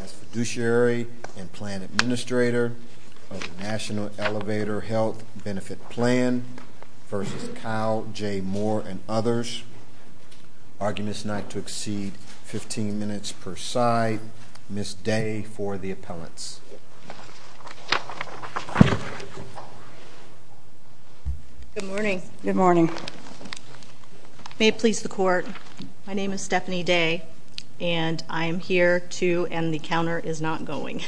as fiduciary and plan administrator of the National Elevator Health Benefit Plan v. Kyle J. Moore and others, arguing this night to exceed 15 minutes per side. Ms. Day for the appellants. Good morning. Good morning. May it please the court, my name is Stephanie Day and I am here to, and the counter is not going.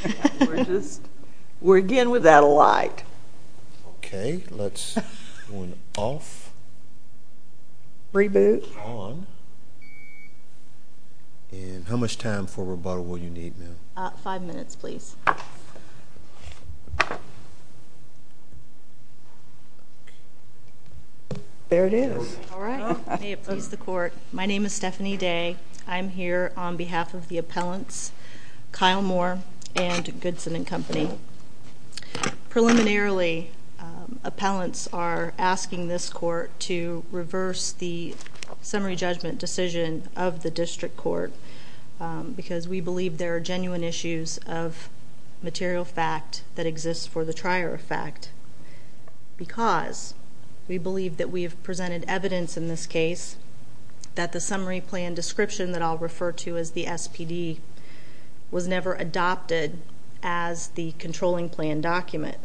We're again without a light. Okay, let's turn off. Reboot. On. And how much time for rebuttal will you need, ma'am? Five minutes, please. There it is. All right. May it please the court, my name is Stephanie Day. I'm here on behalf of the appellants, Kyle Moore and Goodson and Company. Preliminarily, appellants are asking this court to reverse the summary judgment decision of the district court because we believe there are genuine issues of material fact that exists for the trier effect. Because we believe that we have presented evidence in this case that the summary plan description that I'll refer to as the SPD was never adopted as the controlling plan document.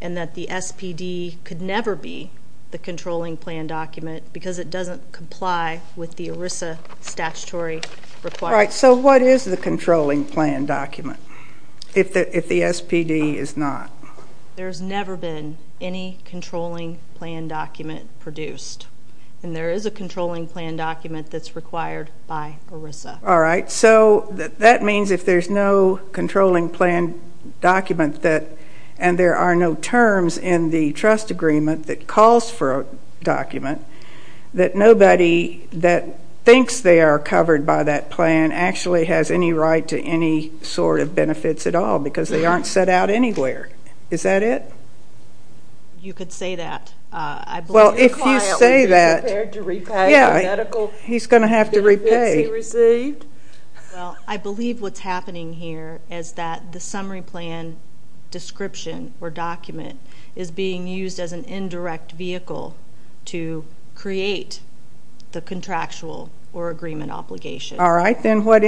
And that the SPD could never be the controlling plan document because it doesn't comply with the ERISA statutory requirements. All right, so what is the controlling plan document if the SPD is not? There's never been any controlling plan document produced. And there is a controlling plan document that's required by ERISA. All right, so that means if there's no controlling plan document and there are no terms in the trust agreement that calls for a document, that nobody that thinks they are covered by that plan actually has any right to any sort of benefits at all because they aren't set out anywhere. Is that it? You could say that. Well, if you say that, yeah, he's going to have to repay. Well, I believe what's happening here is that the summary plan description or document is being used as an indirect vehicle to create the contractual or agreement obligation. All right, then what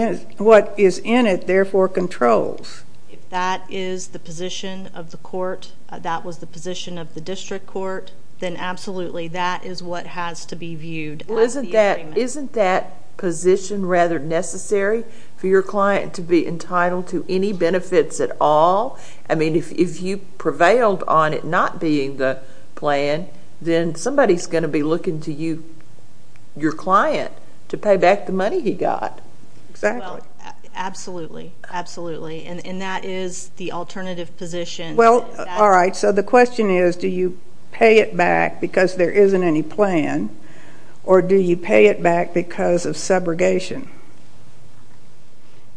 is in it, therefore, controls? If that is the position of the court, that was the position of the district court, then absolutely that is what has to be viewed as the agreement. Well, isn't that position rather necessary for your client to be entitled to any benefits at all? I mean, if you prevailed on it not being the plan, then somebody's going to be looking to you, your client, to pay back the money he got. Exactly. Absolutely, absolutely, and that is the alternative position. Well, all right, so the question is do you pay it back because there isn't any plan or do you pay it back because of subrogation?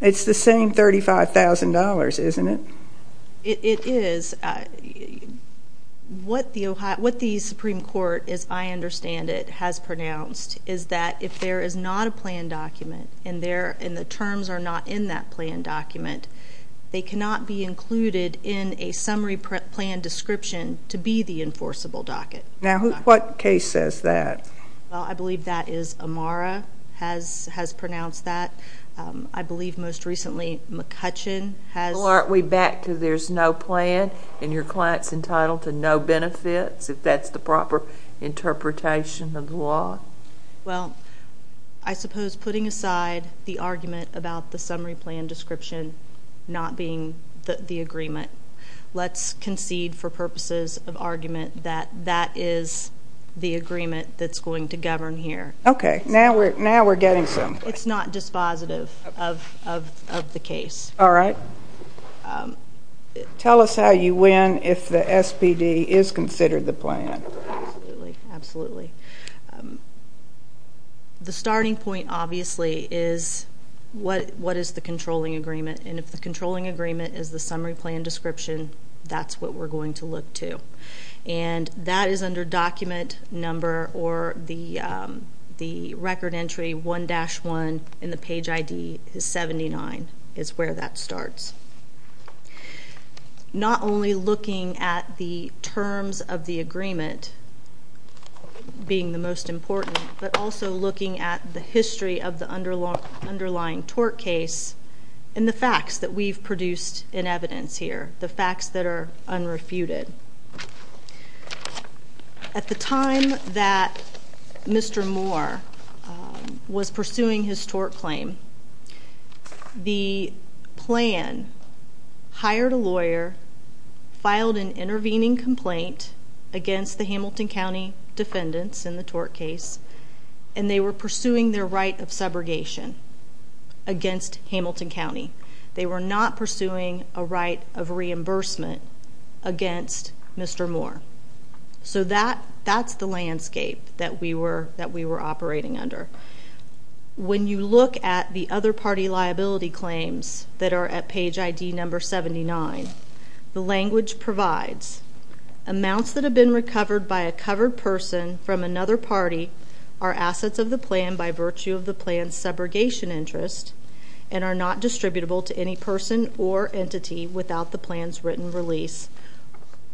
It's the same $35,000, isn't it? It is. What the Supreme Court, as I understand it, has pronounced is that if there is not a plan document and the terms are not in that plan document, they cannot be included in a summary plan description to be the enforceable docket. Now, what case says that? Well, I believe that is Amara has pronounced that. I believe most recently McCutcheon has. Well, aren't we back to there's no plan and your client's entitled to no benefits if that's the proper interpretation of the law? Well, I suppose putting aside the argument about the summary plan description not being the agreement, let's concede for purposes of argument that that is the agreement that's going to govern here. Okay, now we're getting somewhere. It's not dispositive of the case. All right. Tell us how you win if the SPD is considered the plan. Absolutely, absolutely. The starting point, obviously, is what is the controlling agreement, and if the controlling agreement is the summary plan description, that's what we're going to look to. And that is under document number or the record entry 1-1 and the page ID is 79 is where that starts. Not only looking at the terms of the agreement being the most important, but also looking at the history of the underlying tort case and the facts that we've produced in evidence here, the facts that are unrefuted. At the time that Mr. Moore was pursuing his tort claim, the plan hired a lawyer, filed an intervening complaint against the Hamilton County defendants in the tort case, and they were pursuing their right of subrogation against Hamilton County. They were not pursuing a right of reimbursement against Mr. Moore. So that's the landscape that we were operating under. When you look at the other party liability claims that are at page ID number 79, the language provides amounts that have been recovered by a covered person from another party are assets of the plan by virtue of the plan's subrogation interest and are not distributable to any person or entity without the plan's written release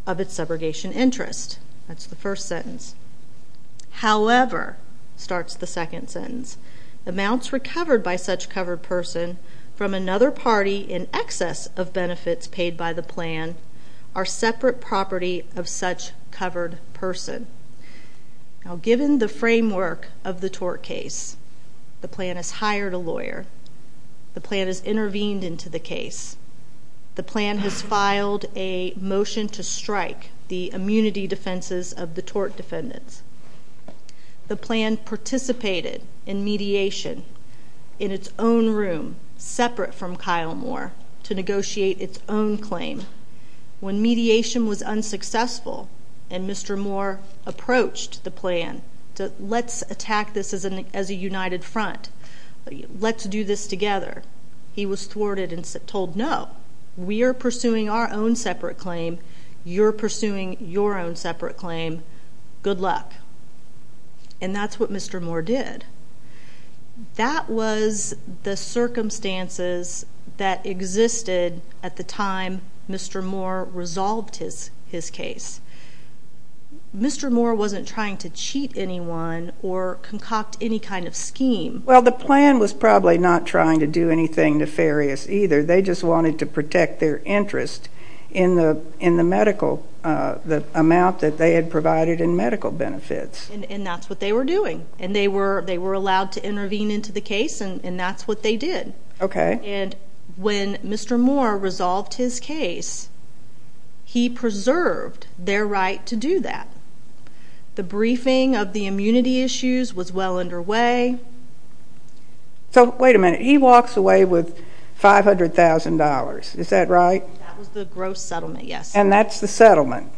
of its subrogation interest. That's the first sentence. However, starts the second sentence, amounts recovered by such covered person from another party in excess of benefits paid by the plan are separate property of such covered person. Now given the framework of the tort case, the plan has hired a lawyer. The plan has intervened into the case. The plan has filed a motion to strike the immunity defenses of the tort defendants. The plan participated in mediation in its own room separate from Kyle Moore to negotiate its own claim. When mediation was unsuccessful and Mr. Moore approached the plan, let's attack this as a united front. Let's do this together. He was thwarted and told no. We are pursuing our own separate claim. You're pursuing your own separate claim. Good luck. And that's what Mr. Moore did. That was the circumstances that existed at the time Mr. Moore resolved his case. Mr. Moore wasn't trying to cheat anyone or concoct any kind of scheme. Well, the plan was probably not trying to do anything nefarious either. They just wanted to protect their interest in the medical amount that they had provided in medical benefits. And that's what they were doing. And they were allowed to intervene into the case, and that's what they did. Okay. And when Mr. Moore resolved his case, he preserved their right to do that. The briefing of the immunity issues was well underway. So wait a minute. He walks away with $500,000. Is that right? That was the gross settlement, yes. And that's the settlement.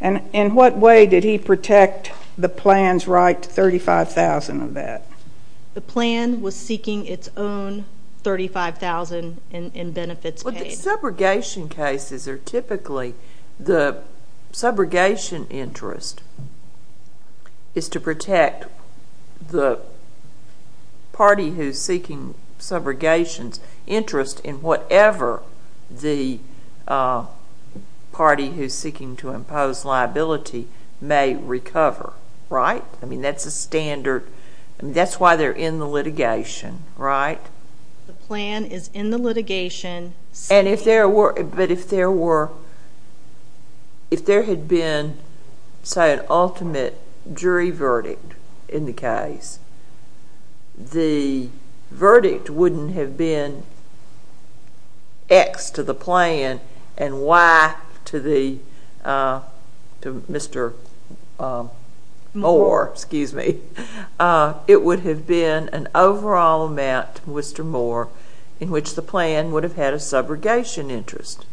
And in what way did he protect the plan's right to $35,000 of that? The plan was seeking its own $35,000 in benefits paid. Well, the subrogation cases are typically the subrogation interest is to protect the party who's seeking subrogation's interest in whatever the party who's seeking to impose liability may recover, right? I mean, that's a standard. That's why they're in the litigation, right? The plan is in the litigation. But if there had been, say, an ultimate jury verdict in the case, the verdict wouldn't have been X to the plan and Y to Mr. Moore. It would have been an overall amount to Mr. Moore in which the plan would have had a subrogation interest.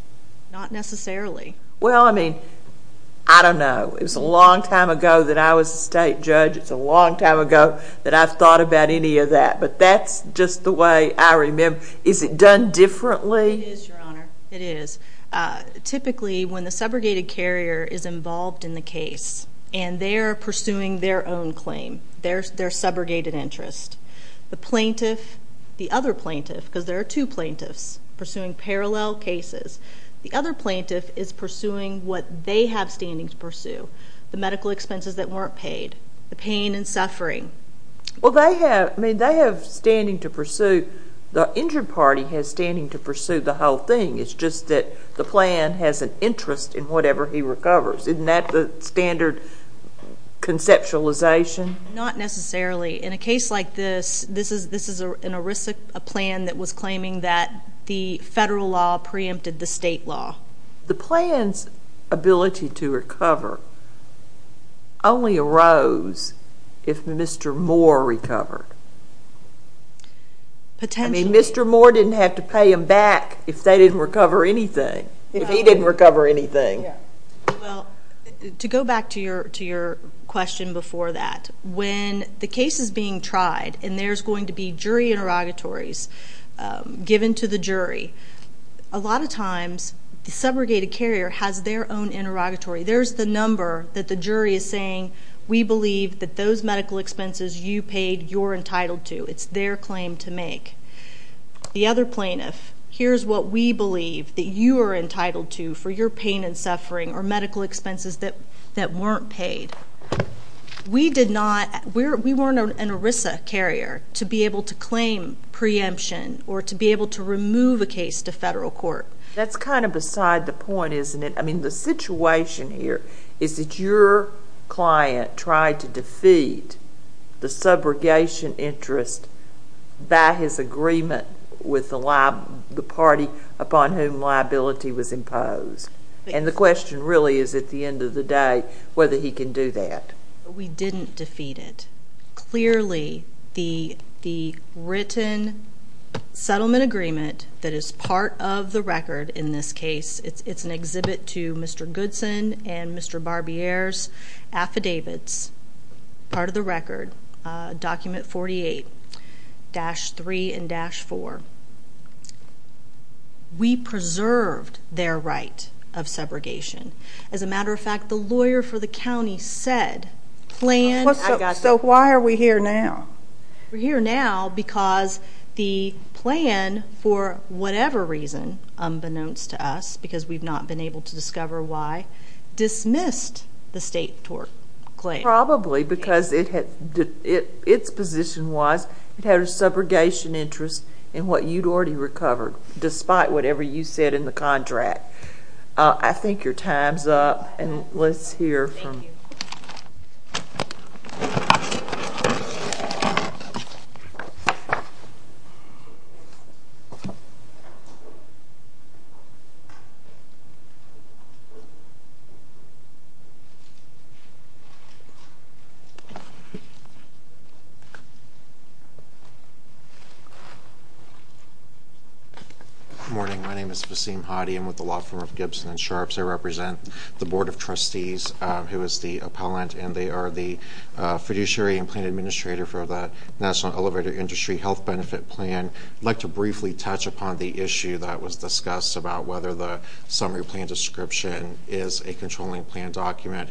Not necessarily. Well, I mean, I don't know. It was a long time ago that I was a state judge. It's a long time ago that I've thought about any of that. But that's just the way I remember. Is it done differently? It is, Your Honor. It is. Typically, when the subrogated carrier is involved in the case and they're pursuing their own claim, their subrogated interest, the plaintiff, the other plaintiff, because there are two plaintiffs pursuing parallel cases, the other plaintiff is pursuing what they have standing to pursue, the medical expenses that weren't paid, the pain and suffering. Well, they have standing to pursue. The injured party has standing to pursue the whole thing. It's just that the plan has an interest in whatever he recovers. Isn't that the standard conceptualization? Not necessarily. In a case like this, this is a plan that was claiming that the federal law preempted the state law. The plan's ability to recover only arose if Mr. Moore recovered. Potentially. Mr. Moore didn't have to pay them back if they didn't recover anything, if he didn't recover anything. Well, to go back to your question before that, when the case is being tried and there's going to be jury interrogatories given to the jury, a lot of times the subrogated carrier has their own interrogatory. There's the number that the jury is saying, we believe that those medical expenses you paid, you're entitled to. It's their claim to make. The other plaintiff, here's what we believe that you are entitled to for your pain and suffering or medical expenses that weren't paid. We did not, we weren't an ERISA carrier to be able to claim preemption or to be able to remove a case to federal court. That's kind of beside the point, isn't it? I mean, the situation here is that your client tried to defeat the subrogation interest by his agreement with the party upon whom liability was imposed. And the question really is, at the end of the day, whether he can do that. We didn't defeat it. Clearly, the written settlement agreement that is part of the record in this case, it's an exhibit to Mr. Goodson and Mr. Barbier's affidavits, part of the record, document 48-3 and dash 4. We preserved their right of subrogation. As a matter of fact, the lawyer for the county said, planned. So why are we here now? We're here now because the plan, for whatever reason, unbeknownst to us, because we've not been able to discover why, dismissed the state tort claim. Probably because its position was it had a subrogation interest in what you'd already recovered, despite whatever you said in the contract. I think your time's up, and let's hear from... Thank you. Thank you. Good morning. My name is Basim Hadi. I'm with the law firm of Gibson and Sharps. I represent the Board of Trustees, who is the appellant, and they are the fiduciary and plan administrator for the National Elevator Industry Health Benefit Plan. I'd like to briefly touch upon the issue that was discussed about whether the summary plan description is a controlling plan document.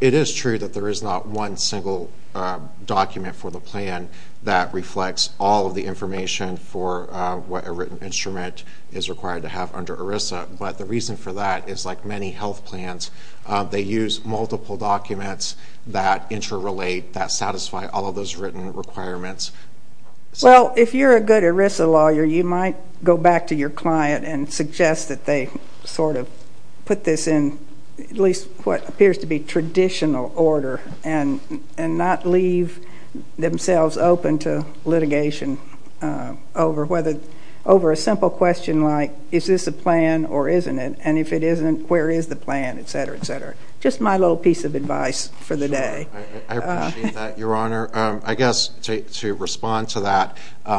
It is true that there is not one single document for the plan that reflects all of the information for what a written instrument is required to have under ERISA. But the reason for that is, like many health plans, they use multiple documents that interrelate, that satisfy all of those written requirements. Well, if you're a good ERISA lawyer, you might go back to your client and suggest that they sort of put this in at least what appears to be traditional order and not leave themselves open to litigation over a simple question like, is this a plan or isn't it? And if it isn't, where is the plan? Et cetera, et cetera. Just my little piece of advice for the day. Sure. I appreciate that, Your Honor. I guess to respond to that,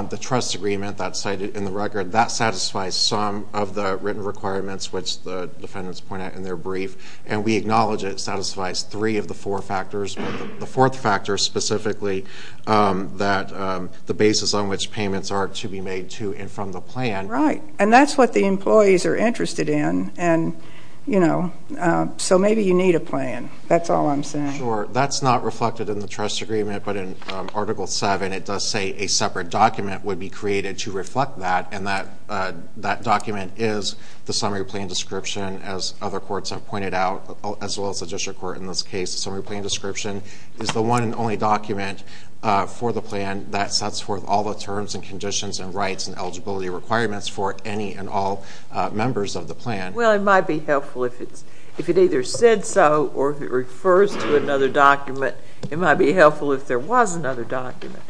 the trust agreement that's cited in the record, that satisfies some of the written requirements, which the defendants point out in their brief. And we acknowledge it satisfies three of the four factors, but the fourth factor specifically, that the basis on which payments are to be made to and from the plan. Right. And that's what the employees are interested in. And, you know, so maybe you need a plan. That's all I'm saying. Sure. That's not reflected in the trust agreement. But in Article VII, it does say a separate document would be created to reflect that. And that document is the summary plan description, as other courts have pointed out, as well as the district court in this case. The summary plan description is the one and only document for the plan that sets forth all the terms and conditions and rights and eligibility requirements for any and all members of the plan. Well, it might be helpful if it either said so or if it refers to another document, it might be helpful if there was another document.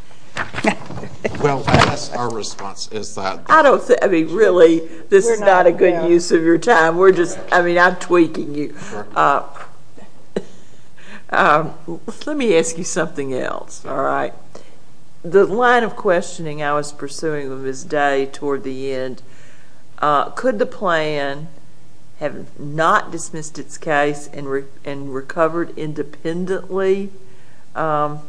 Well, that's our response. I don't think, I mean, really, this is not a good use of your time. We're just, I mean, I'm tweaking you. All right. The line of questioning I was pursuing with Ms. Day toward the end, could the plan have not dismissed its case and recovered independently of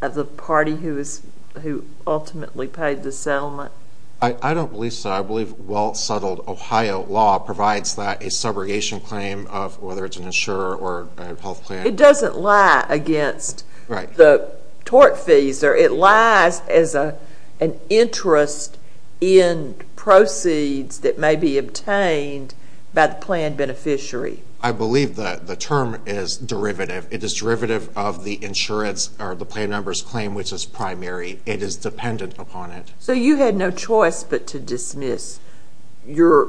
the party who ultimately paid the settlement? I don't believe so. I believe well-settled Ohio law provides that a subrogation claim of whether it's an insurer or a health plan. It doesn't lie against the tort fees. It lies as an interest in proceeds that may be obtained by the plan beneficiary. I believe the term is derivative. It is derivative of the insurance or the plan number's claim, which is primary. It is dependent upon it. So you had no choice but to dismiss your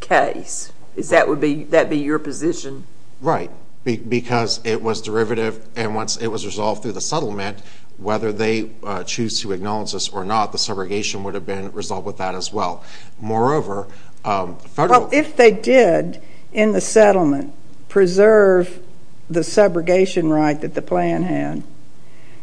case? That would be your position? Right, because it was derivative, and once it was resolved through the settlement, whether they choose to acknowledge this or not, the subrogation would have been resolved with that as well. Moreover, federal Well, if they did, in the settlement, preserve the subrogation right that the plan had,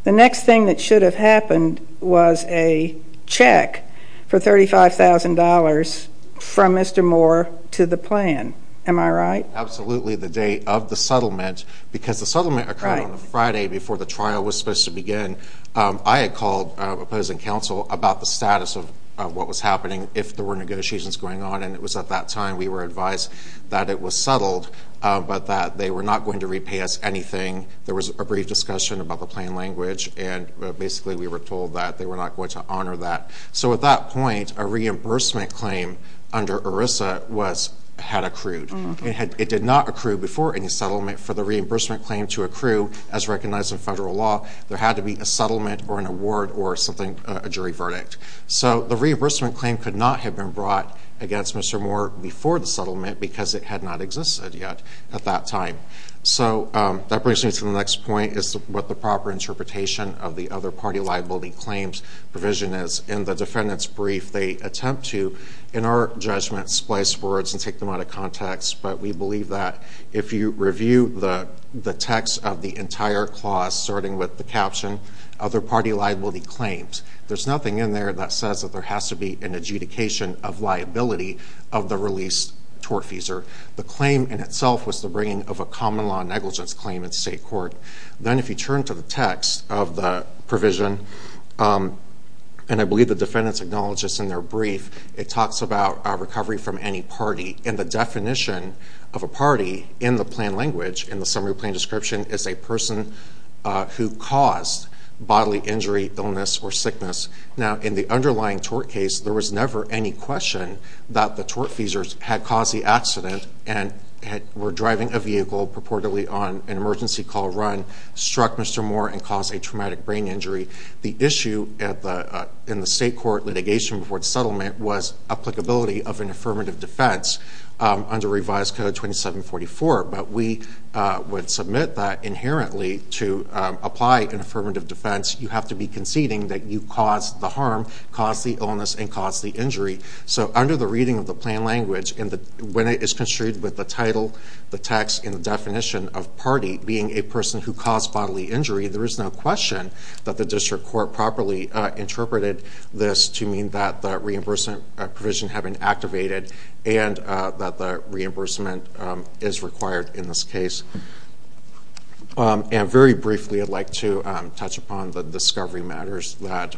the next thing that should have happened was a check for $35,000 from Mr. Moore to the plan. Am I right? Absolutely, the date of the settlement, because the settlement occurred on the Friday before the trial was supposed to begin. I had called opposing counsel about the status of what was happening if there were negotiations going on, and it was at that time we were advised that it was settled, but that they were not going to repay us anything. There was a brief discussion about the plain language, and basically we were told that they were not going to honor that. So at that point, a reimbursement claim under ERISA had accrued. It did not accrue before any settlement for the reimbursement claim to accrue as recognized in federal law. There had to be a settlement or an award or something, a jury verdict. So the reimbursement claim could not have been brought against Mr. Moore before the settlement because it had not existed yet at that time. So that brings me to the next point, is what the proper interpretation of the other party liability claims provision is. In the defendant's brief, they attempt to, in our judgment, splice words and take them out of context. But we believe that if you review the text of the entire clause, starting with the caption, other party liability claims, there's nothing in there that says that there has to be an adjudication of liability of the released tortfeasor. The claim in itself was the bringing of a common law negligence claim in state court. Then if you turn to the text of the provision, and I believe the defendants acknowledge this in their brief, it talks about recovery from any party. And the definition of a party in the plain language, in the summary plain description, is a person who caused bodily injury, illness, or sickness. Now, in the underlying tort case, there was never any question that the tortfeasors had caused the accident and were driving a vehicle purportedly on an emergency call run, struck Mr. Moore, and caused a traumatic brain injury. The issue in the state court litigation before the settlement was applicability of an affirmative defense under revised code 2744. But we would submit that inherently to apply an affirmative defense, you have to be conceding that you caused the harm, caused the illness, and caused the injury. So under the reading of the plain language, when it is construed with the title, the text, and the definition of party being a person who caused bodily injury, there is no question that the district court properly interpreted this to mean that the reimbursement provision had been activated and that the reimbursement is required in this case. And very briefly, I'd like to touch upon the discovery matters that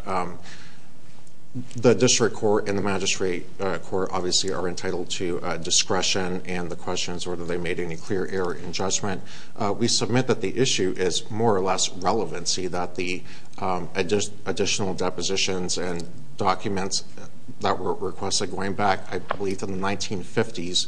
the district court and the magistrate court obviously are entitled to discretion and the questions whether they made any clear error in judgment. We submit that the issue is more or less relevancy that the additional depositions and documents that were requested going back, I believe, to the 1950s,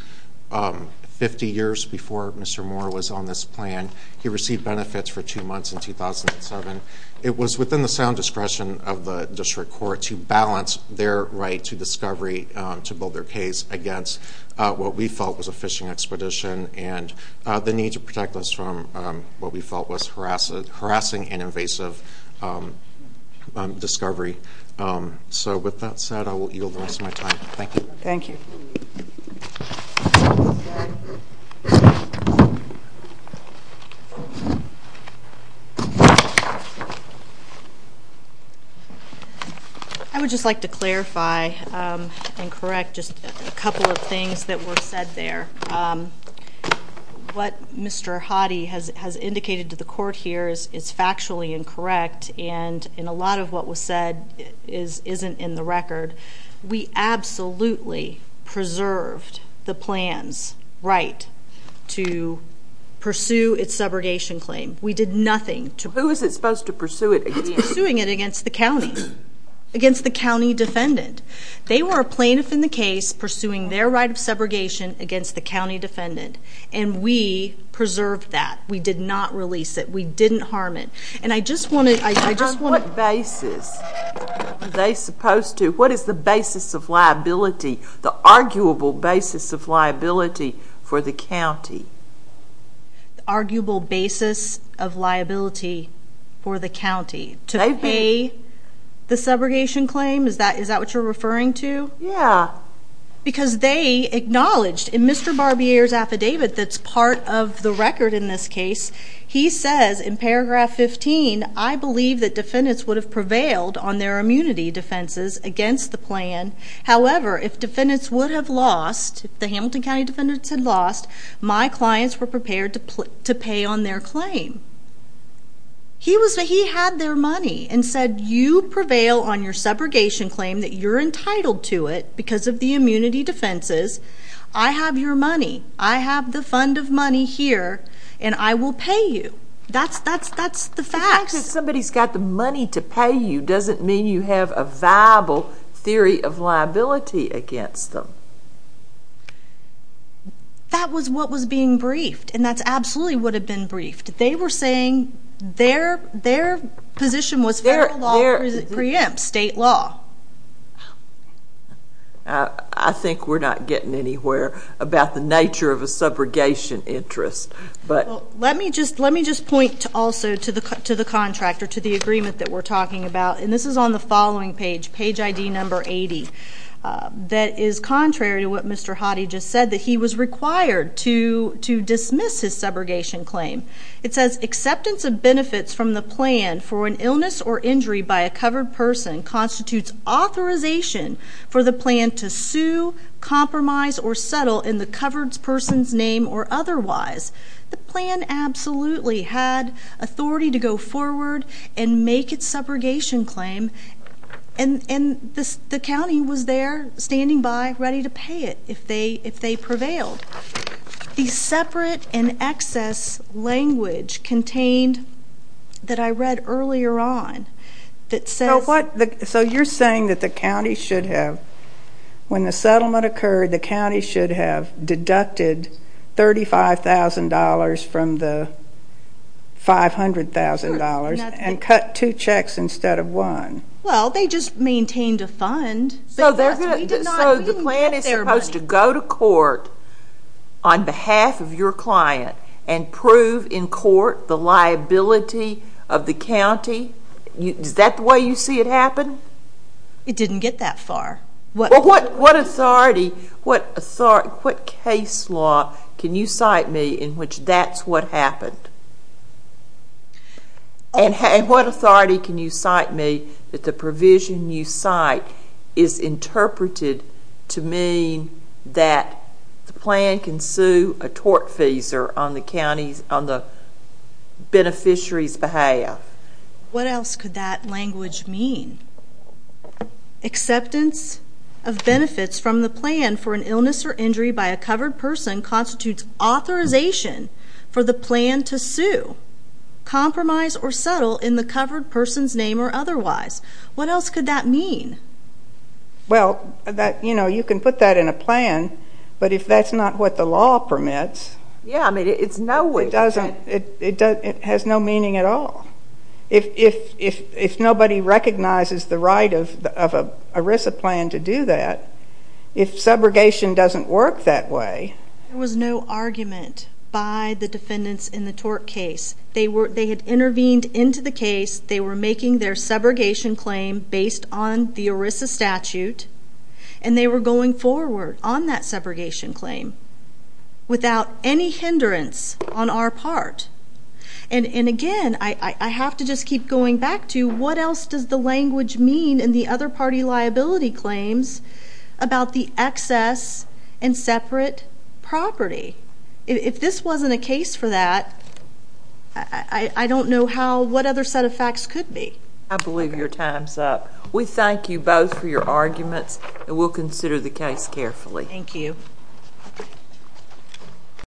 50 years before Mr. Moore was on this plan. He received benefits for two months in 2007. It was within the sound discretion of the district court to balance their right to discovery to build their case against what we felt was a fishing expedition and the need to protect us from what we felt was harassing and invasive discovery. So with that said, I will yield the rest of my time. Thank you. Thank you. I would just like to clarify and correct just a couple of things that were said there. What Mr. Hoddy has indicated to the court here is factually incorrect, and a lot of what was said isn't in the record. We absolutely preserved the plan's right to pursue its subrogation claim. We did nothing to— Who is it supposed to pursue it against? Pursuing it against the county, against the county defendant. They were a plaintiff in the case pursuing their right of subrogation against the county defendant, and we preserved that. We did not release it. We didn't harm it. And I just want to— Are they supposed to—what is the basis of liability, the arguable basis of liability for the county? The arguable basis of liability for the county? They've been— To pay the subrogation claim? Is that what you're referring to? Yeah. Because they acknowledged in Mr. Barbier's affidavit that's part of the record in this case, he says in paragraph 15, I believe that defendants would have prevailed on their immunity defenses against the plan. However, if defendants would have lost, if the Hamilton County defendants had lost, my clients were prepared to pay on their claim. He had their money and said, you prevail on your subrogation claim that you're entitled to it because of the immunity defenses. I have your money. I have the fund of money here, and I will pay you. That's the facts. The fact that somebody's got the money to pay you doesn't mean you have a viable theory of liability against them. That was what was being briefed, and that's absolutely what had been briefed. They were saying their position was federal law preempts state law. I think we're not getting anywhere about the nature of a subrogation interest. Let me just point also to the contract or to the agreement that we're talking about. And this is on the following page, page ID number 80, that is contrary to what Mr. Hottie just said, that he was required to dismiss his subrogation claim. It says, acceptance of benefits from the plan for an illness or injury by a covered person constitutes authorization for the plan to sue, compromise, or settle in the covered person's name or otherwise. The plan absolutely had authority to go forward and make its subrogation claim. And the county was there standing by ready to pay it if they prevailed. The separate and excess language contained that I read earlier on that says- So you're saying that the county should have, when the settlement occurred, the county should have deducted $35,000 from the $500,000 and cut two checks instead of one? Well, they just maintained a fund. So the plan is supposed to go to court on behalf of your client and prove in court the liability of the county? Is that the way you see it happen? It didn't get that far. Well, what authority, what case law can you cite me in which that's what happened? And what authority can you cite me that the provision you cite is interpreted to mean that the plan can sue a tortfeasor on the beneficiary's behalf? What else could that language mean? Acceptance of benefits from the plan for an illness or injury by a covered person constitutes authorization for the plan to sue. Compromise or settle in the covered person's name or otherwise. What else could that mean? Well, you know, you can put that in a plan, but if that's not what the law permits- Yeah, I mean, it's no way- It has no meaning at all. If nobody recognizes the right of an ERISA plan to do that, if subrogation doesn't work that way- There was no argument by the defendants in the tort case. They had intervened into the case. They were making their subrogation claim based on the ERISA statute, and they were going forward on that subrogation claim without any hindrance on our part. And again, I have to just keep going back to what else does the language mean in the other party liability claims about the excess and separate property? If this wasn't a case for that, I don't know what other set of facts could be. I believe your time's up. We thank you both for your arguments, and we'll consider the case carefully. Thank you.